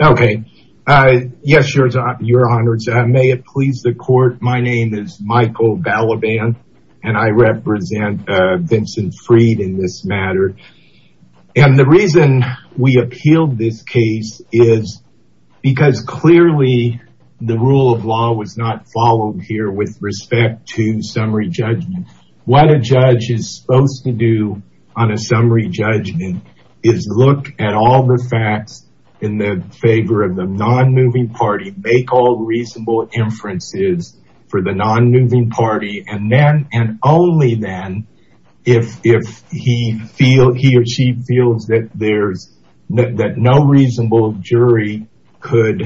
Okay. Yes, your honor. May it please the court. My name is Michael Balaban and I represent Vincent Fried in this matter. And the reason we appealed this case is because clearly the rule of law was not followed here with respect to summary judgment. What a judge is supposed to do on a summary judgment is look at all the facts in the favor of the non-moving party, make all reasonable inferences for the non-moving party, and then and only then if he or she feels that no reasonable jury could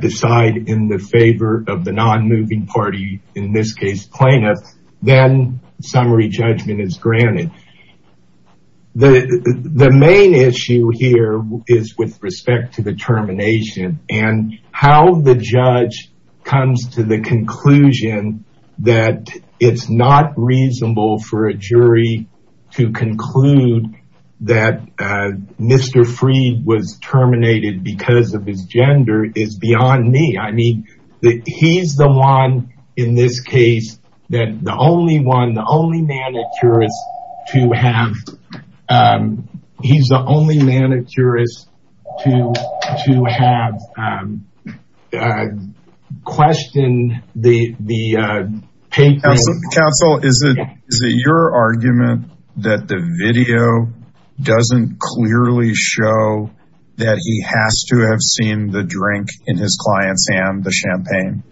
decide in the favor of the non-moving party, in this case plaintiff, then summary judgment is granted. The main issue here is with respect to the termination and how the judge comes to the conclusion that it's not reasonable for a jury to conclude that Mr. Fried was terminated because of his gender is beyond me. I mean, he's the one in this case that the only one, the only manicurist to have, he's the only manicurist to have questioned the paper. Counsel, is it your argument that the video doesn't clearly show that he has to have seen the drink in his client's hand, the champagne?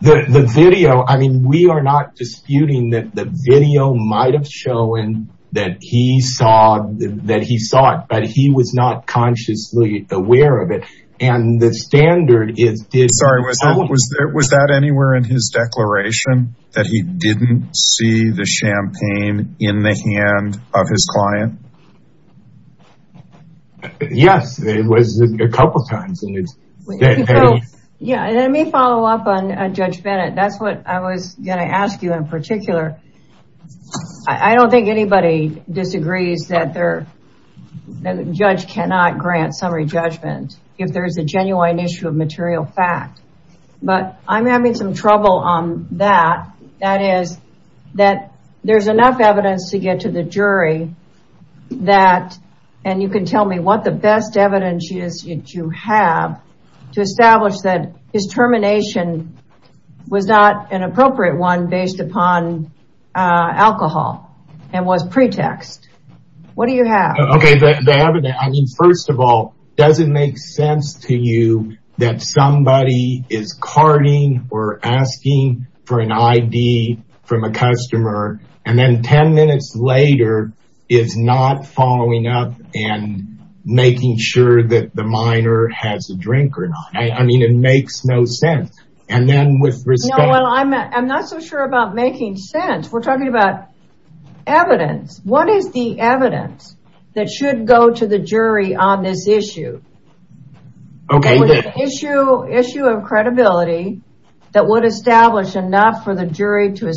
The video, I mean, we are not disputing that the video might've shown that he saw that he saw it, but he was not consciously aware of it. And the standard is... Sorry, was that anywhere in his declaration that he didn't see the champagne in the hand of his client? Yes, it was a couple of times. Let me follow up on Judge Bennett. That's what I was going to ask you in particular. I don't think anybody disagrees that the judge cannot grant summary judgment if there's a genuine issue of material fact, but I'm having some trouble on that. That is that there's enough evidence to get to the jury that, and you can tell me what the best evidence is that you have to establish that his termination was not an appropriate one based upon alcohol and was pretext. What do you have? Okay, the evidence, I mean, first of all, does it make sense to you that somebody is carding or asking for an ID from a customer and then 10 minutes later is not following up and making sure that the minor has a drink or not? I mean, it makes no sense. And then with respect... Well, I'm not so sure about making sense. We're talking about evidence. What is the evidence that should go to the jury on this issue? Okay, the issue of credibility that would establish enough for the jury to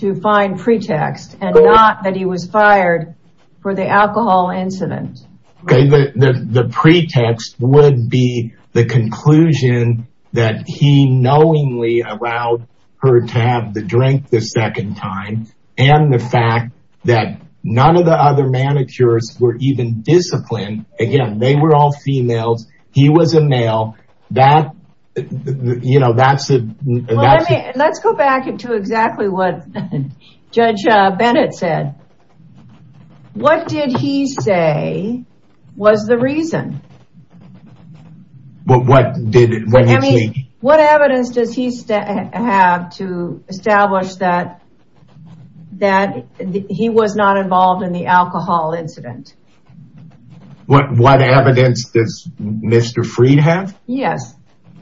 to find pretext and not that he was fired for the alcohol incident. Okay, the pretext would be the conclusion that he knowingly allowed her to have the drink the second time and the fact that none of the other manicurists were even disciplined. Again, they were all females. He was a male. That, you know, that's... Let's go back into exactly what Judge Bennett said. What did he say was the reason? What evidence does he have to establish that that he was not involved in the alcohol incident? What evidence does Mr. Freed have? Yes,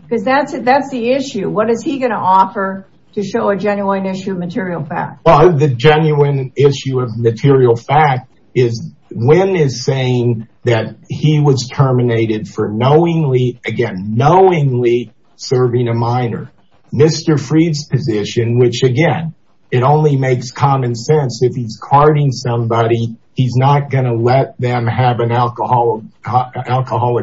because that's it. That's the issue. What is he going to offer to show a genuine issue of material fact? Well, the genuine issue of material fact is Wynn is saying that he was terminated for knowingly, again, knowingly serving a minor. Mr. Freed's position, which again, it only makes common sense if he's carting somebody. He's not going to let them have an alcoholic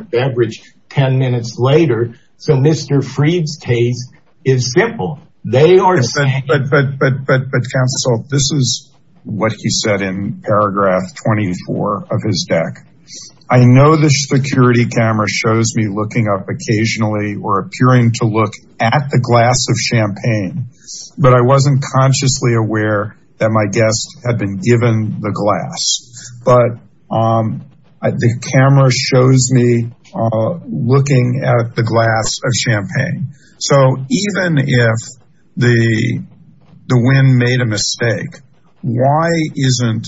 beverage 10 minutes later. So Mr. Freed's case is simple. They are saying... But counsel, this is what he said in paragraph 24 of his deck. I know the security camera shows me looking up occasionally or appearing to look at the glass of champagne, but I wasn't consciously aware that my guest had been given the glass. But the camera shows me looking at the glass of champagne. So even if the Wynn made a mistake, why isn't...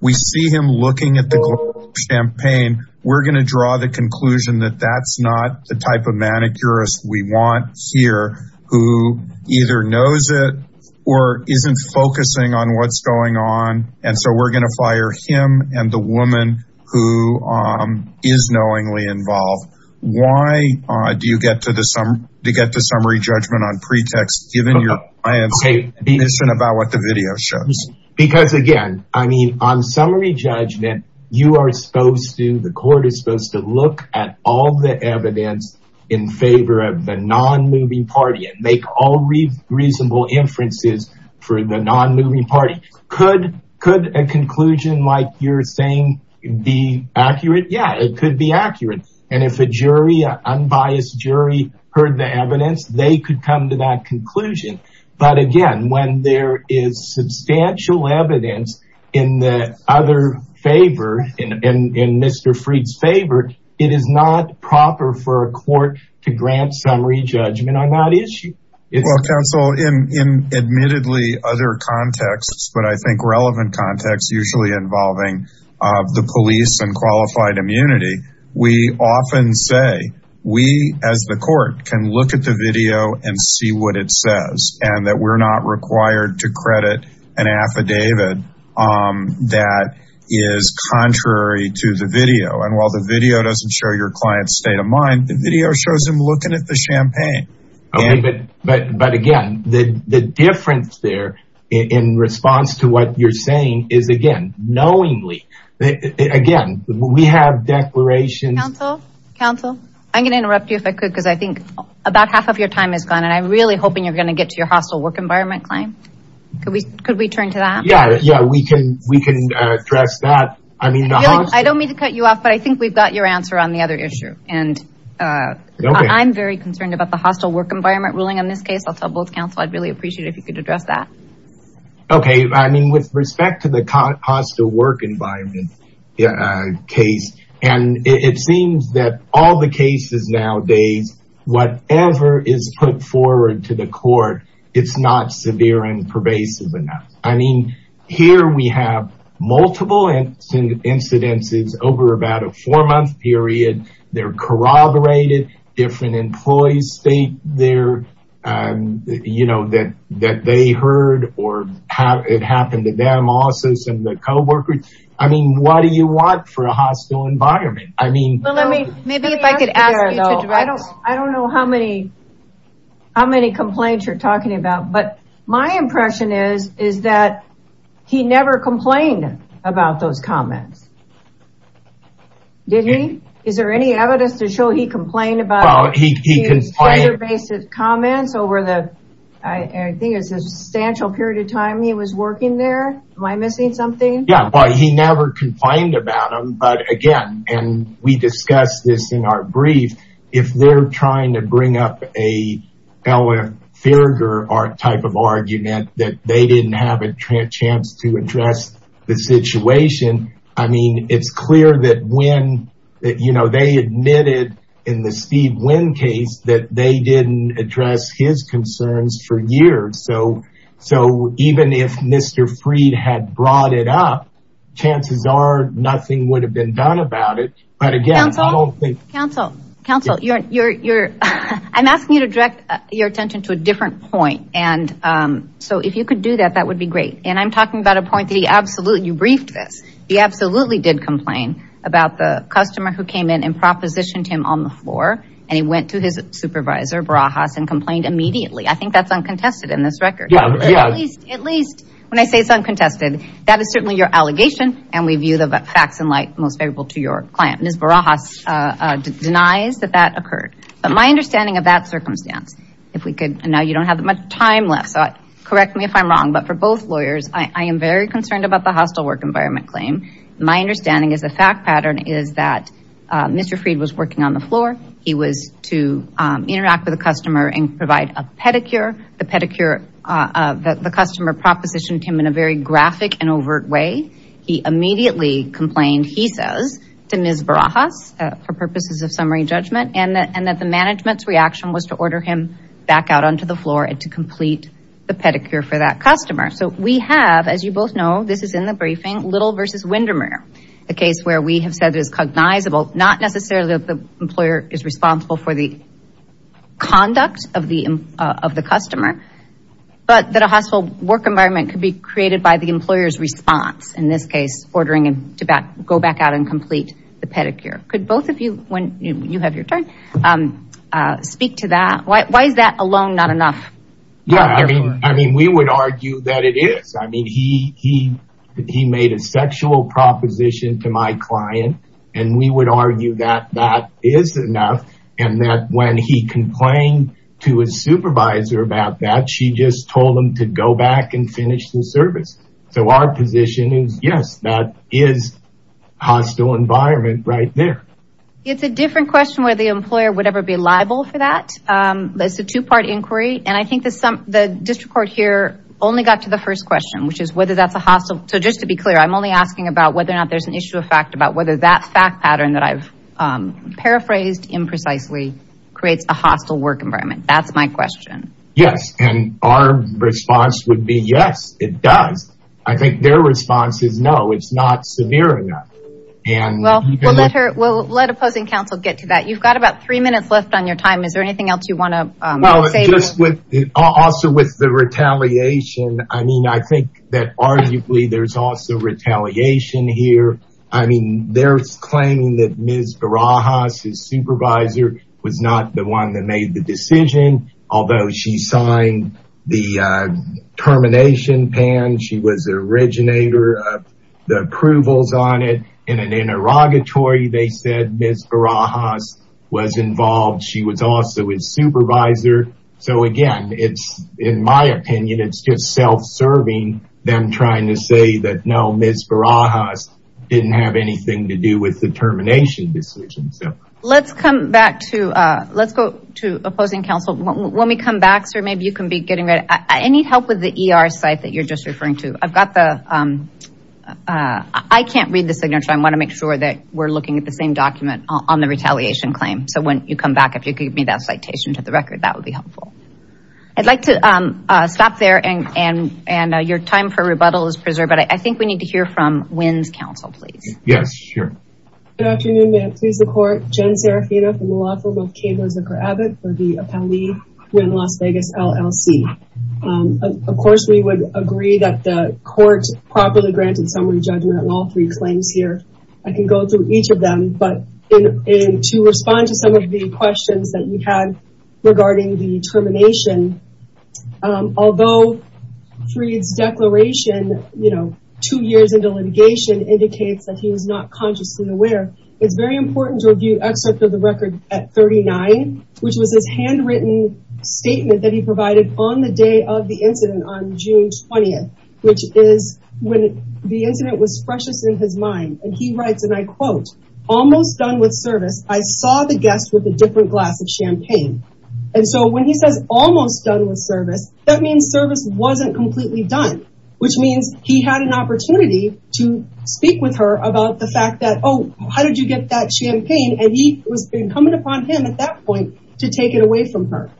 We see him looking at the glass of champagne. We're going to draw the conclusion that that's not the type of manicurist we want here, who either knows it or isn't focusing on what's going on. And so we're going to fire him and the woman who is knowingly involved. Why do you get to the summary judgment on pretext, given your client's admission about what the video shows? Because again, I mean, on summary judgment, you are supposed to, the court is supposed to look at all the evidence in favor of the non-movie party and make all reasonable inferences for the non-movie party. Could a conclusion like you're saying be accurate? Yeah, it could be accurate. And if a jury, an unbiased jury heard the evidence, they could come to that conclusion. But again, when there is substantial evidence in the other favor, in Mr. Fried's favor, it is not proper for a court to grant summary judgment on that issue. Well, counsel, in admittedly other contexts, but I think relevant contexts, usually involving the police and qualified immunity, we often say, we as the court can look at the video and see what it says and that we're not required to credit an affidavit that is contrary to the video. And while the video doesn't show your client's state of mind, the video shows him looking at the champagne. But again, the difference there in response to what you're saying is again, knowingly, again, we have declarations. Counsel, counsel, I'm going to interrupt you if I could, because I think about half of your time is gone. And I'm really hoping you're going to get to your hostile work environment claim. Could we could we turn to that? Yeah, yeah, we can we can address that. I mean, I don't mean to cut you off, but I think we've got your answer on the other issue. And I'm very concerned about the hostile work environment ruling on this case. I'll tell both counsel, I'd really appreciate if you could address that. Okay. I mean, with respect to hostile work environment case, and it seems that all the cases nowadays, whatever is put forward to the court, it's not severe and pervasive enough. I mean, here we have multiple incidences over about a four month period. They're corroborated, different employees state their, you know, that, that they heard or how it happened to them, also some of the co workers. I mean, what do you want for a hostile environment? I mean, I don't know how many, how many complaints you're talking about. But my impression is, is that he never complained about those comments. Did he? Is there any evidence to show he complained about his comments over the, I think it's a substantial period of time he was working there? Am I missing something? Yeah, well, he never complained about them. But again, and we discussed this in our brief, if they're trying to bring up a Ella Fairger type of argument that they didn't have a chance to address the situation. I mean, it's clear that when that, you know, they admitted in the Steve Wynn case that they didn't address his concerns for years. So, so even if Mr. Fried had brought it up, chances are nothing would have been done about it. But again, I don't think counsel counsel, you're, you're, I'm asking you to direct your attention to a different point. And so if you could do that, that would be great. And I'm talking about a point that he absolutely, you briefed this, he absolutely did complain about the customer who came in and propositioned him on the floor. And he went to his supervisor Barajas and complained immediately. I think that's uncontested in this record. At least when I say it's uncontested, that is certainly your allegation. And we view the facts and light most favorable to your client. Ms. Barajas denies that that occurred. But my understanding of that circumstance, if we could, and now you don't have that much time left, so correct me if I'm wrong, but for both lawyers, I am very concerned about the hostile work environment claim. My understanding is the fact pattern is that Mr. Fried was working on the floor. He was to interact with a customer and provide a pedicure, the pedicure that the customer propositioned him in a very graphic and overt way. He immediately complained, he says to Ms. Barajas for purposes of summary judgment, and that the management's reaction was to order him back out onto the floor and to complete the pedicure for that customer. So we have, as you both know, this is in the briefing, Little versus Windermere. The case where we have said it is cognizable, not necessarily that the employer is responsible for the conduct of the customer, but that a hostile work environment could be created by the employer's response. In this case, ordering him to go back out and complete the pedicure. Could both of you, when you have your time, speak to that? Why is that alone not enough? Yeah, I mean, we would argue that it is. I mean, he made a sexual proposition to my client, and we would argue that that is enough, and that when he complained to his supervisor about that, she just told him to go back and finish the service. So our position is yes, that is a hostile environment right there. It's a different question whether the employer would ever be liable for that. It's a two-part inquiry, and I think the district court here only got to the first question, which is whether that's a hostile. So just to be clear, I'm only asking about whether or not there's an issue of fact about whether that fact pattern that I've paraphrased imprecisely creates a hostile work environment. That's my question. Yes, and our response would be yes, it does. I think their response is no, it's not severe enough. Well, we'll let her, we'll let opposing counsel get to that. You've got about three minutes left on your time. Is there anything else you want to say? Well, just with, also with the retaliation, I mean, I think that arguably there's also retaliation here. I mean, they're claiming that Ms. Barajas, his supervisor, was not the one that made the decision, although she signed the termination pan. She was the originator of the approvals on it. In an interrogatory, they said Ms. Barajas was involved. She was also his supervisor. So again, it's, in my opinion, it's just self-serving them trying to say that no, Ms. Barajas didn't have anything to do with the termination decision. Let's come back to, let's go to opposing counsel. When we come back, sir, maybe you can be getting ready. I need help with the ER site that you're just referring to. I've got the, I can't read the signature. I want to make sure that we're looking at the same document on the retaliation claim. So when you come back, if you could give me that citation to the record, that would be helpful. I'd like to stop there and your time for rebuttal is up. Yes, sure. Good afternoon, ma'am. Please, the court, Jen Serafina from the law firm of Cable and Zucker Abbott for the appellee in Las Vegas, LLC. Of course, we would agree that the court properly granted summary judgment on all three claims here. I can go through each of them, but to respond to some of the questions that we had regarding the termination, um, although Freed's declaration, you know, two years into litigation indicates that he was not consciously aware. It's very important to review excerpt of the record at 39, which was his handwritten statement that he provided on the day of the incident on June 20th, which is when the incident was freshest in his mind. And he writes, and I quote, almost done with service. I saw the almost done with service. That means service wasn't completely done, which means he had an opportunity to speak with her about the fact that, oh, how did you get that champagne? And he was coming upon him at that point to take it away from her.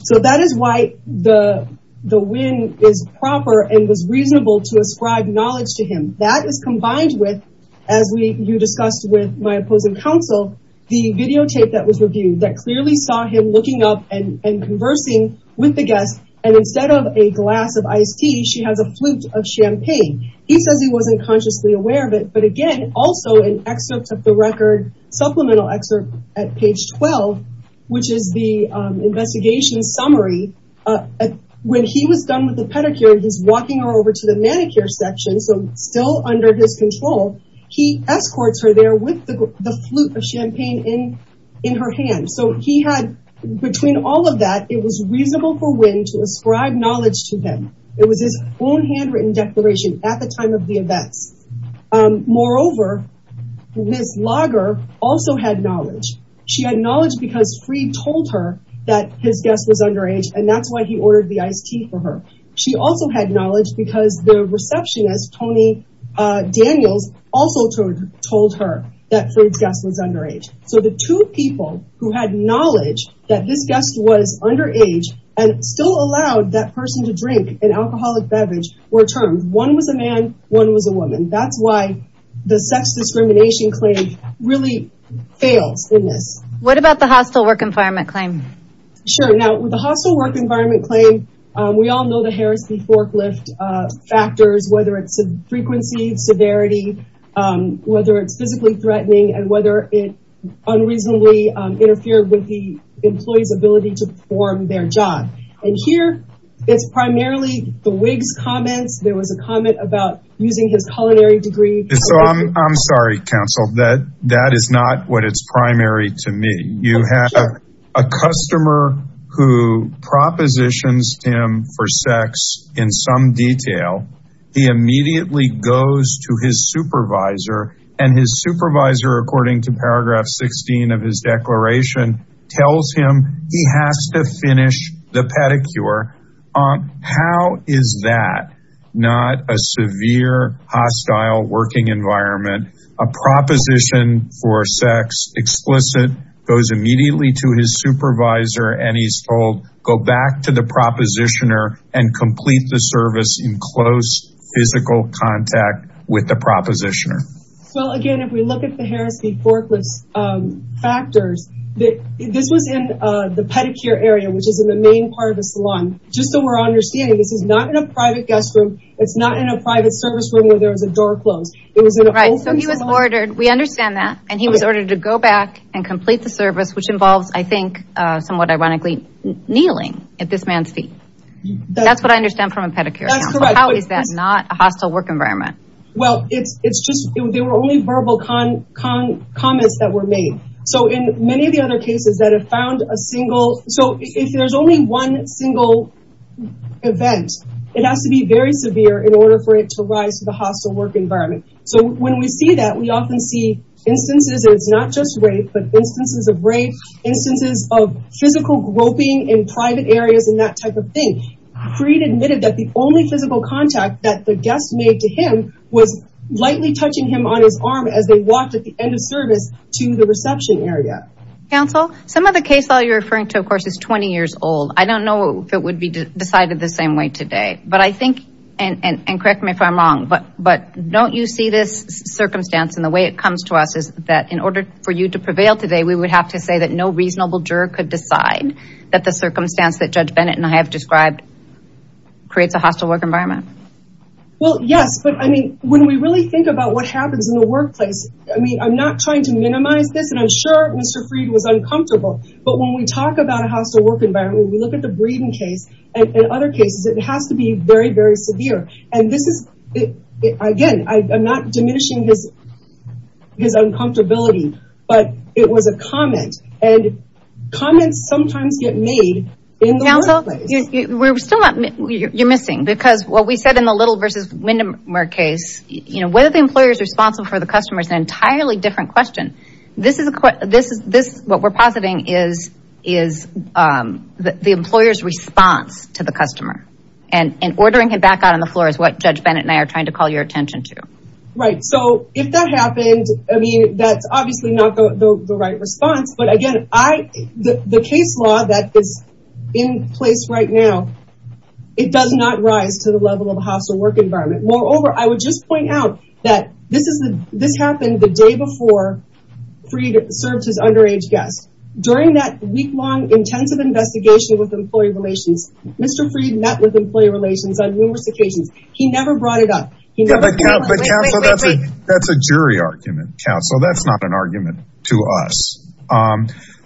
So that is why the, the wind is proper and was reasonable to ascribe knowledge to him. That is combined with, as we, you discussed with my opposing counsel, the videotape that was reviewed that clearly saw him looking up and, and conversing with the guests. And instead of a glass of iced tea, she has a flute of champagne. He says he wasn't consciously aware of it, but again, also an excerpt of the record supplemental excerpt at page 12, which is the investigation summary. Uh, when he was done with the pedicure, he's walking her over to the manicure section. So still under his control, he escorts her there with the flute of champagne in, in her hand. So he had between all of that, it was reasonable for wind to ascribe knowledge to them. It was his own handwritten declaration at the time of the events. Um, moreover, Ms. Lager also had knowledge. She had knowledge because free told her that his guest was underage. And that's why he ordered the iced tea for her. She also had knowledge because the receptionist, Tony, uh, Daniels also told, told her that Fred's guest was underage. So the two people who had knowledge that this guest was underage and still allowed that person to drink an alcoholic beverage were termed. One was a man. One was a woman. That's why the sex discrimination claim really fails in this. What about the hostile work environment claim? Sure. Now with the hostile work environment claim, um, we all know the Harris v. Forklift, uh, factors, whether it's a frequency severity, um, whether it's physically threatening and whether it unreasonably, um, interfered with the employee's ability to perform their job. And here it's primarily the Wiggs comments. There was a comment about using his culinary degree. So I'm, I'm sorry, counsel that that is not what it's primary to me. You have a customer who propositions him for sex in some detail. He immediately goes to his supervisor and his supervisor, according to paragraph 16 of his declaration tells him he has to finish the environment. A proposition for sex explicit goes immediately to his supervisor and he's told go back to the propositioner and complete the service in close physical contact with the propositioner. Well, again, if we look at the Harris v. Forklift, um, factors that this was in, uh, the pedicure area, which is in the main part of the salon, just so we're understanding, this is not in a private guest room. It's not in a private service room where there was a door closed. Right. So he was ordered. We understand that. And he was ordered to go back and complete the service, which involves, I think, uh, somewhat ironically kneeling at this man's feet. That's what I understand from a pedicure. How is that not a hostile work environment? Well, it's, it's just, they were only verbal comments that were made. So in many of the other cases that have found a single, so if there's only one single event, it has to be very severe in order for it to rise to the hostile work environment. So when we see that, we often see instances, and it's not just rape, but instances of rape, instances of physical groping in private areas and that type of thing. Creed admitted that the only physical contact that the guest made to him was lightly touching him on his arm as they walked at the end of service to the reception area. Counsel, some of the case law you're referring to, of course, is 20 years old. I don't know if it would be decided the same way today, but I think, and, and, and correct me if I'm wrong, but, but don't you see this circumstance and the way it comes to us is that in order for you to prevail today, we would have to say that no reasonable juror could decide that the circumstance that Judge Bennett and I have described creates a hostile work environment. Well, yes, but I mean, when we really think about what happens in the workplace, I mean, I'm not trying to minimize this and I'm sure Mr. Freed was uncomfortable, but when we talk about a hostile work environment, we look at the Breeden case and other cases, it has to be very, very severe. And this is, again, I'm not diminishing his, his uncomfortability, but it was a comment and comments sometimes get made in the workplace. Counsel, we're still not, you're missing, because what we said in the Little versus Windermere case, you know, whether the employer is responsible for the customer is an entirely different question. This is a, this is, this, we're positing is, is the employer's response to the customer and ordering him back out on the floor is what Judge Bennett and I are trying to call your attention to. Right. So if that happened, I mean, that's obviously not the right response, but again, I, the case law that is in place right now, it does not rise to the level of a hostile work environment. Moreover, I would just point out that this is the, this happened the day before Freed served as underage guest. During that week long intensive investigation with employee relations, Mr. Freed met with employee relations on numerous occasions. He never brought it up. That's a jury argument, counsel. That's not an argument to us.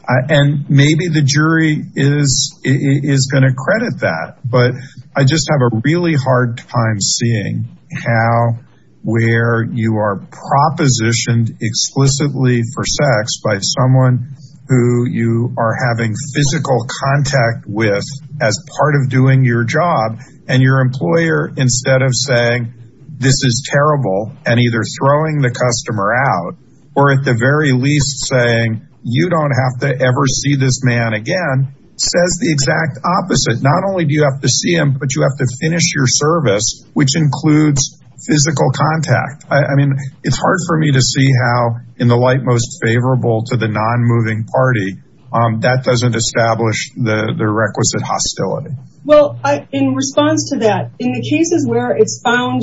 And maybe the jury is, is going to credit that, but I just have a really hard time seeing how, where you are propositioned explicitly for sex by someone who you are having physical contact with as part of doing your job and your employer, instead of saying, this is terrible and either throwing the customer out or at the very least saying, you don't have to ever see this man again, says the exact opposite. Not only do you have to see him, but you have to finish your service, which includes physical contact. I mean, it's hard for me to see how in the light, most favorable to the non-moving party, that doesn't establish the requisite hostility. Well, in response to that, in the cases where it's found,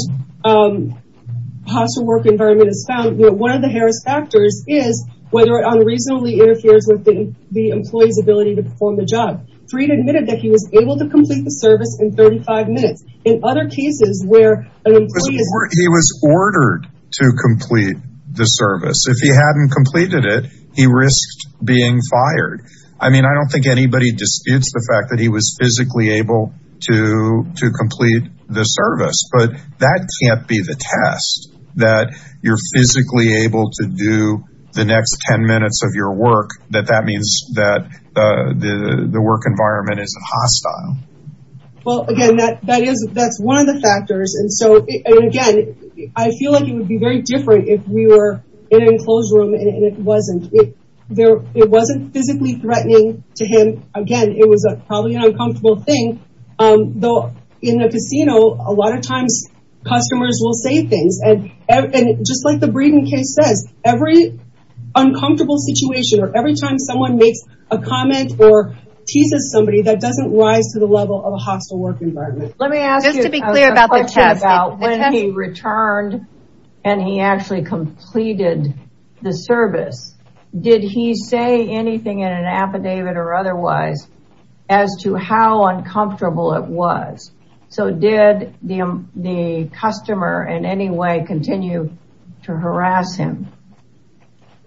hostile work environment is found, one of the Harris factors is whether it unreasonably interferes with the employee's ability to perform the job. Freed admitted that he was able to complete the service in 35 minutes. He was ordered to complete the service. If he hadn't completed it, he risked being fired. I mean, I don't think anybody disputes the fact that he was physically able to, to complete the service, but that can't be the test that you're physically able to do the next 10 minutes of your means that the work environment is hostile. Well, again, that is, that's one of the factors. And so, again, I feel like it would be very different if we were in an enclosed room and it wasn't. It wasn't physically threatening to him. Again, it was probably an uncomfortable thing. Though in a casino, a lot of times customers will say things and just like the Breeden case says, every uncomfortable situation or every time someone makes a comment or teases somebody, that doesn't rise to the level of a hostile work environment. Let me ask you, when he returned and he actually completed the service, did he say anything in an affidavit or otherwise as to how uncomfortable it was? So did the customer in any way continue to harass him?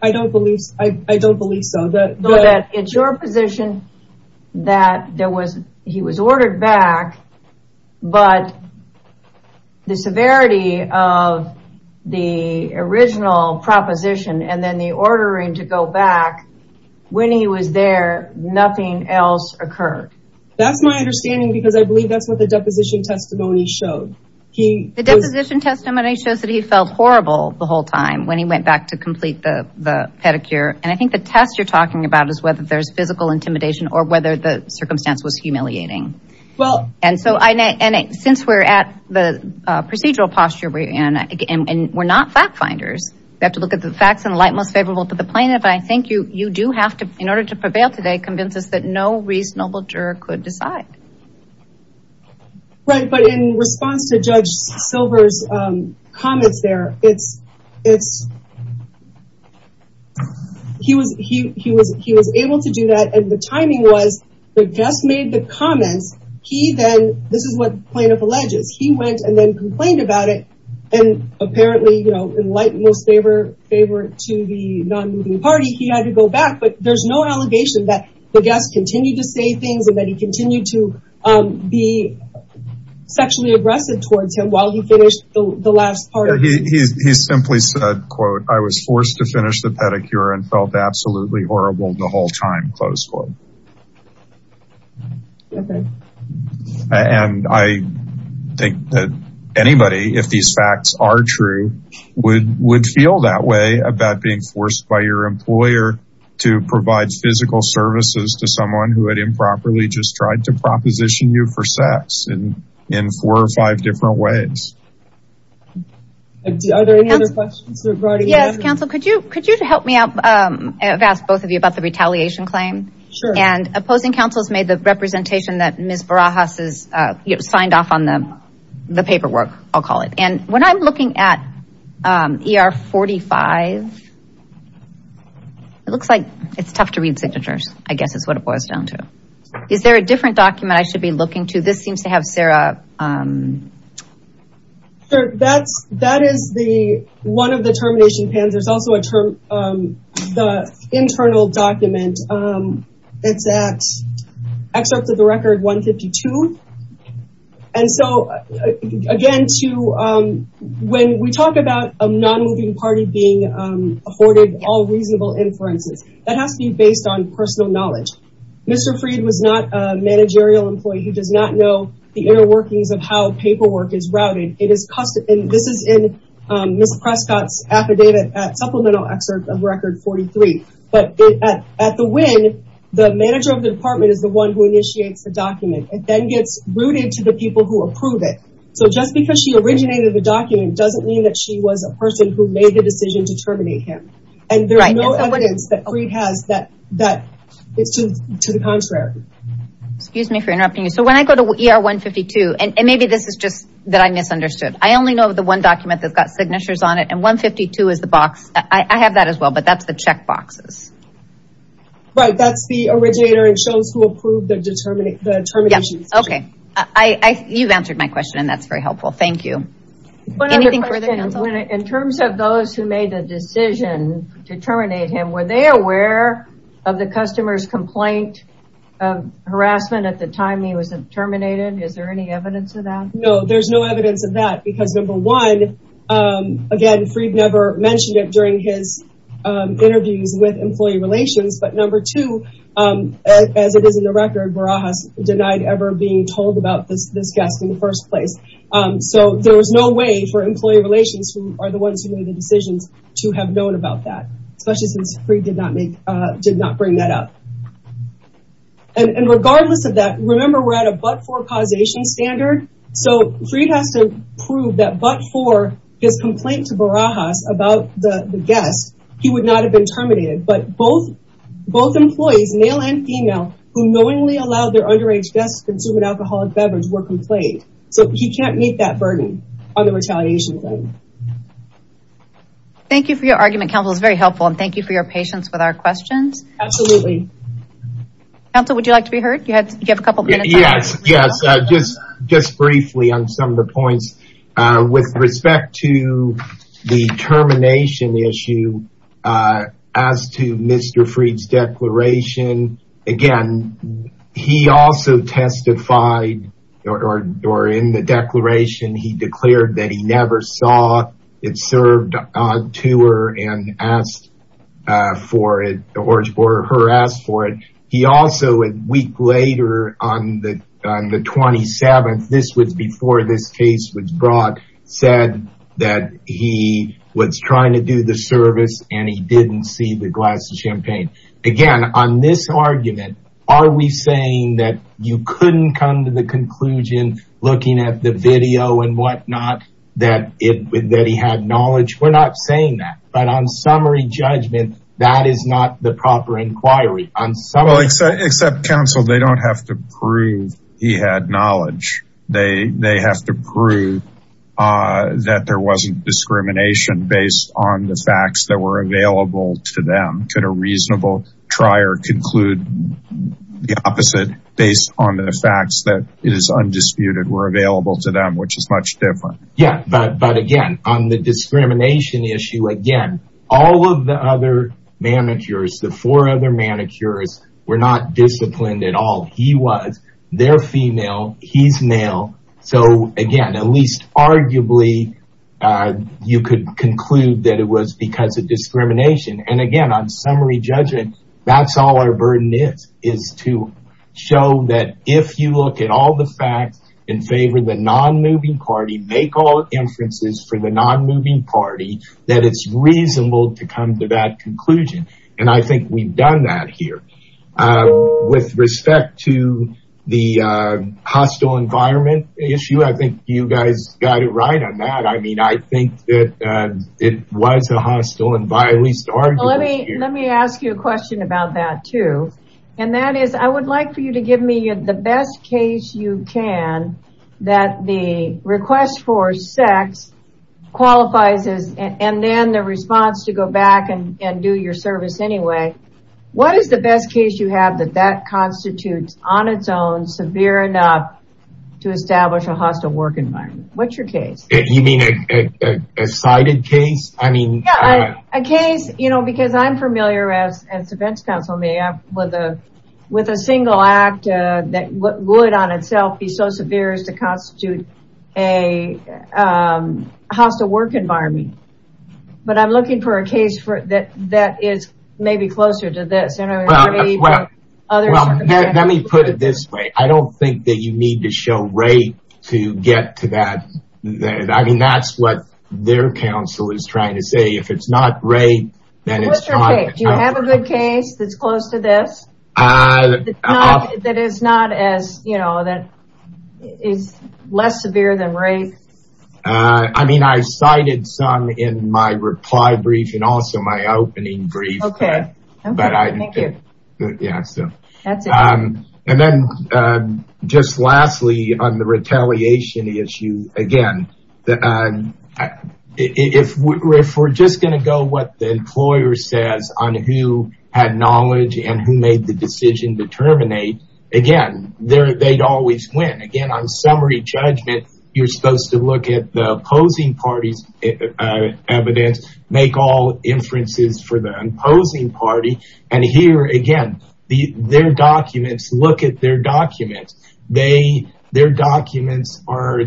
I don't believe, I don't believe so. Though that it's your position that there was, he was ordered back, but the severity of the original proposition and then the ordering to go back when he was there, nothing else occurred. That's my understanding because I believe that's what the deposition testimony showed. The deposition testimony shows that he felt horrible the whole time when he went back to complete the pedicure. I think the test you're talking about is whether there's physical intimidation or whether the circumstance was humiliating. Since we're at the procedural posture and we're not fact finders, we have to look at the facts and the light most favorable to the plaintiff. I think you do have to, in order to prevail today, convince us that no reasonable juror could decide. Right, but in response to Judge Silver's comments there, he was able to do that. And the timing was the guest made the comments, he then, this is what plaintiff alleges, he went and then complained about it. And apparently, in light most favor to the non-moving party, he had to go back, but there's no allegation that the guest continued to say things and that he continued to be sexually aggressive towards him while he finished the last part. He simply said, quote, I was forced to finish the pedicure and felt absolutely horrible the whole time, close quote. And I think that anybody, if these facts are true, would feel that way about being forced by your employer to provide physical services to someone who had improperly just tried to proposition you for sex in four or five different ways. Are there any other questions? Yes, counsel, could you help me out? I've asked both of you about the retaliation claim. Sure. And opposing counsels made the representation that Ms. Barajas has signed off on the paperwork, I'll call it. And when I'm looking at ER 45, it looks like it's tough to read signatures, I guess is what it boils down to. Is there a different document I should be looking to? This seems to have Sarah... Sure, that is one of the termination plans. There's also the internal document. It's at excerpt of the record 152. And so again, when we talk about a non-moving party being afforded all reasonable inferences, that has to be based on personal knowledge. Mr. Freed was not a managerial employee who does not know the inner workings of how paperwork is routed. This is in Ms. Prescott's affidavit at supplemental excerpt of record 43. But at the win, the manager of the department is the one who initiates the document. It then gets routed to the people who approve it. So just because she originated the document doesn't mean that she was a person who made the decision to terminate him. And there's no evidence that it's to the contrary. Excuse me for interrupting you. So when I go to ER 152, and maybe this is just that I misunderstood. I only know the one document that's got signatures on it and 152 is the box. I have that as well, but that's the check boxes. Right, that's the originator and shows who approved the termination decision. Okay. You've answered my question and that's very helpful. Thank you. In terms of those who made the decision to terminate him, were they aware of the customer's complaint of harassment at the time he was terminated? Is there any evidence of that? No, there's no evidence of that because number one, again, Freed never mentioned it during his interviews with employee relations. But number two, as it is in the record, Barajas denied ever being told about this guest in the first place. So there was no way for employee relations who are the ones who made the decisions to have known about that, especially since Freed did not bring that up. And regardless of that, remember we're at a but-for causation standard. So Freed has to prove that but-for his complaint to Barajas about the guest, he would not have been terminated. But both employees, male and female, who knowingly allowed their underage guests to consume an alcoholic beverage were complained. So he can't meet that burden on the retaliation claim. Thank you for your argument. Council, it's very helpful. And thank you for your patience with our questions. Absolutely. Council, would you like to be heard? You have a couple of minutes. Yes, yes. Just briefly on some of the points with respect to the termination issue as to Mr. Freed's declaration. Again, he also testified or in the declaration, he declared that he never saw it served to her and asked for it or her asked for it. He also, a week later on the 27th, this was before this case was brought, said that he was trying to do the service and he didn't see the glass of champagne. Again, on this argument, are we saying that you couldn't come to the conclusion, looking at the video and whatnot, that he had knowledge? We're not saying that. But on summary judgment, that is not the proper inquiry. Except Council, they don't have to prove he had knowledge. They have to prove that there wasn't discrimination based on the facts that were available to them. Could a reasonable trier conclude the opposite based on the facts that it is undisputed were available to them, which is much different? Yeah. But again, on the discrimination issue, again, all of the other manicures, the four other manicures were not disciplined at all. He was. They're female. He's male. So again, at least arguably, you could conclude that it was because of discrimination. And again, on summary judgment, that's all our burden is, is to show that if you look at all the facts in favor of the non-moving party, make all inferences for the non-moving party, that it's reasonable to come to that conclusion. And I think we've done that here. With respect to the hostile environment issue, I think you guys got it right on that. I mean, I think that it was a hostile environment. Let me ask you a question about that, too. And that is, I would like for you to give me the best case you can, that the request for sex qualifies as and then the response to go back and do your service anyway. What is the best case you have that that constitutes on its own severe enough to establish a hostile work environment? What's your case? You mean a cited case? I mean, a case, you know, because I'm familiar as as defense counsel may have with a with a single act that would on itself be so severe as to constitute a hostile work environment. But I'm looking for a case for that that is maybe closer to this. Well, let me put it this way. I don't think that you need to show rape to get to that. I mean, that's what their counsel is trying to say. If it's not rape, then it's not a good case that's close to this. That is not as you know, that is less severe than rape. I mean, I cited some in my reply brief and also my opening brief. And then just lastly, on the retaliation issue, again, if we're just going to go what the employer says on who had knowledge and who made the decision to terminate, again, they'd always win. Again, on summary judgment, you're supposed to look at the opposing party's evidence, make all inferences for the opposing party. And here, again, their documents look at their documents. Their documents are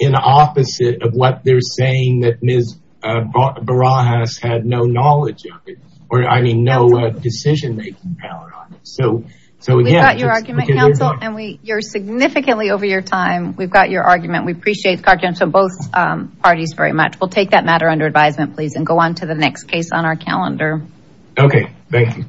in opposite of what they're saying that Ms. Barajas had no knowledge of it or I mean, no decision making power on it. So we've got your argument counsel and we you're significantly over your time. We've got your both parties very much. We'll take that matter under advisement, please, and go on to the next case on our calendar. Okay. Thank you.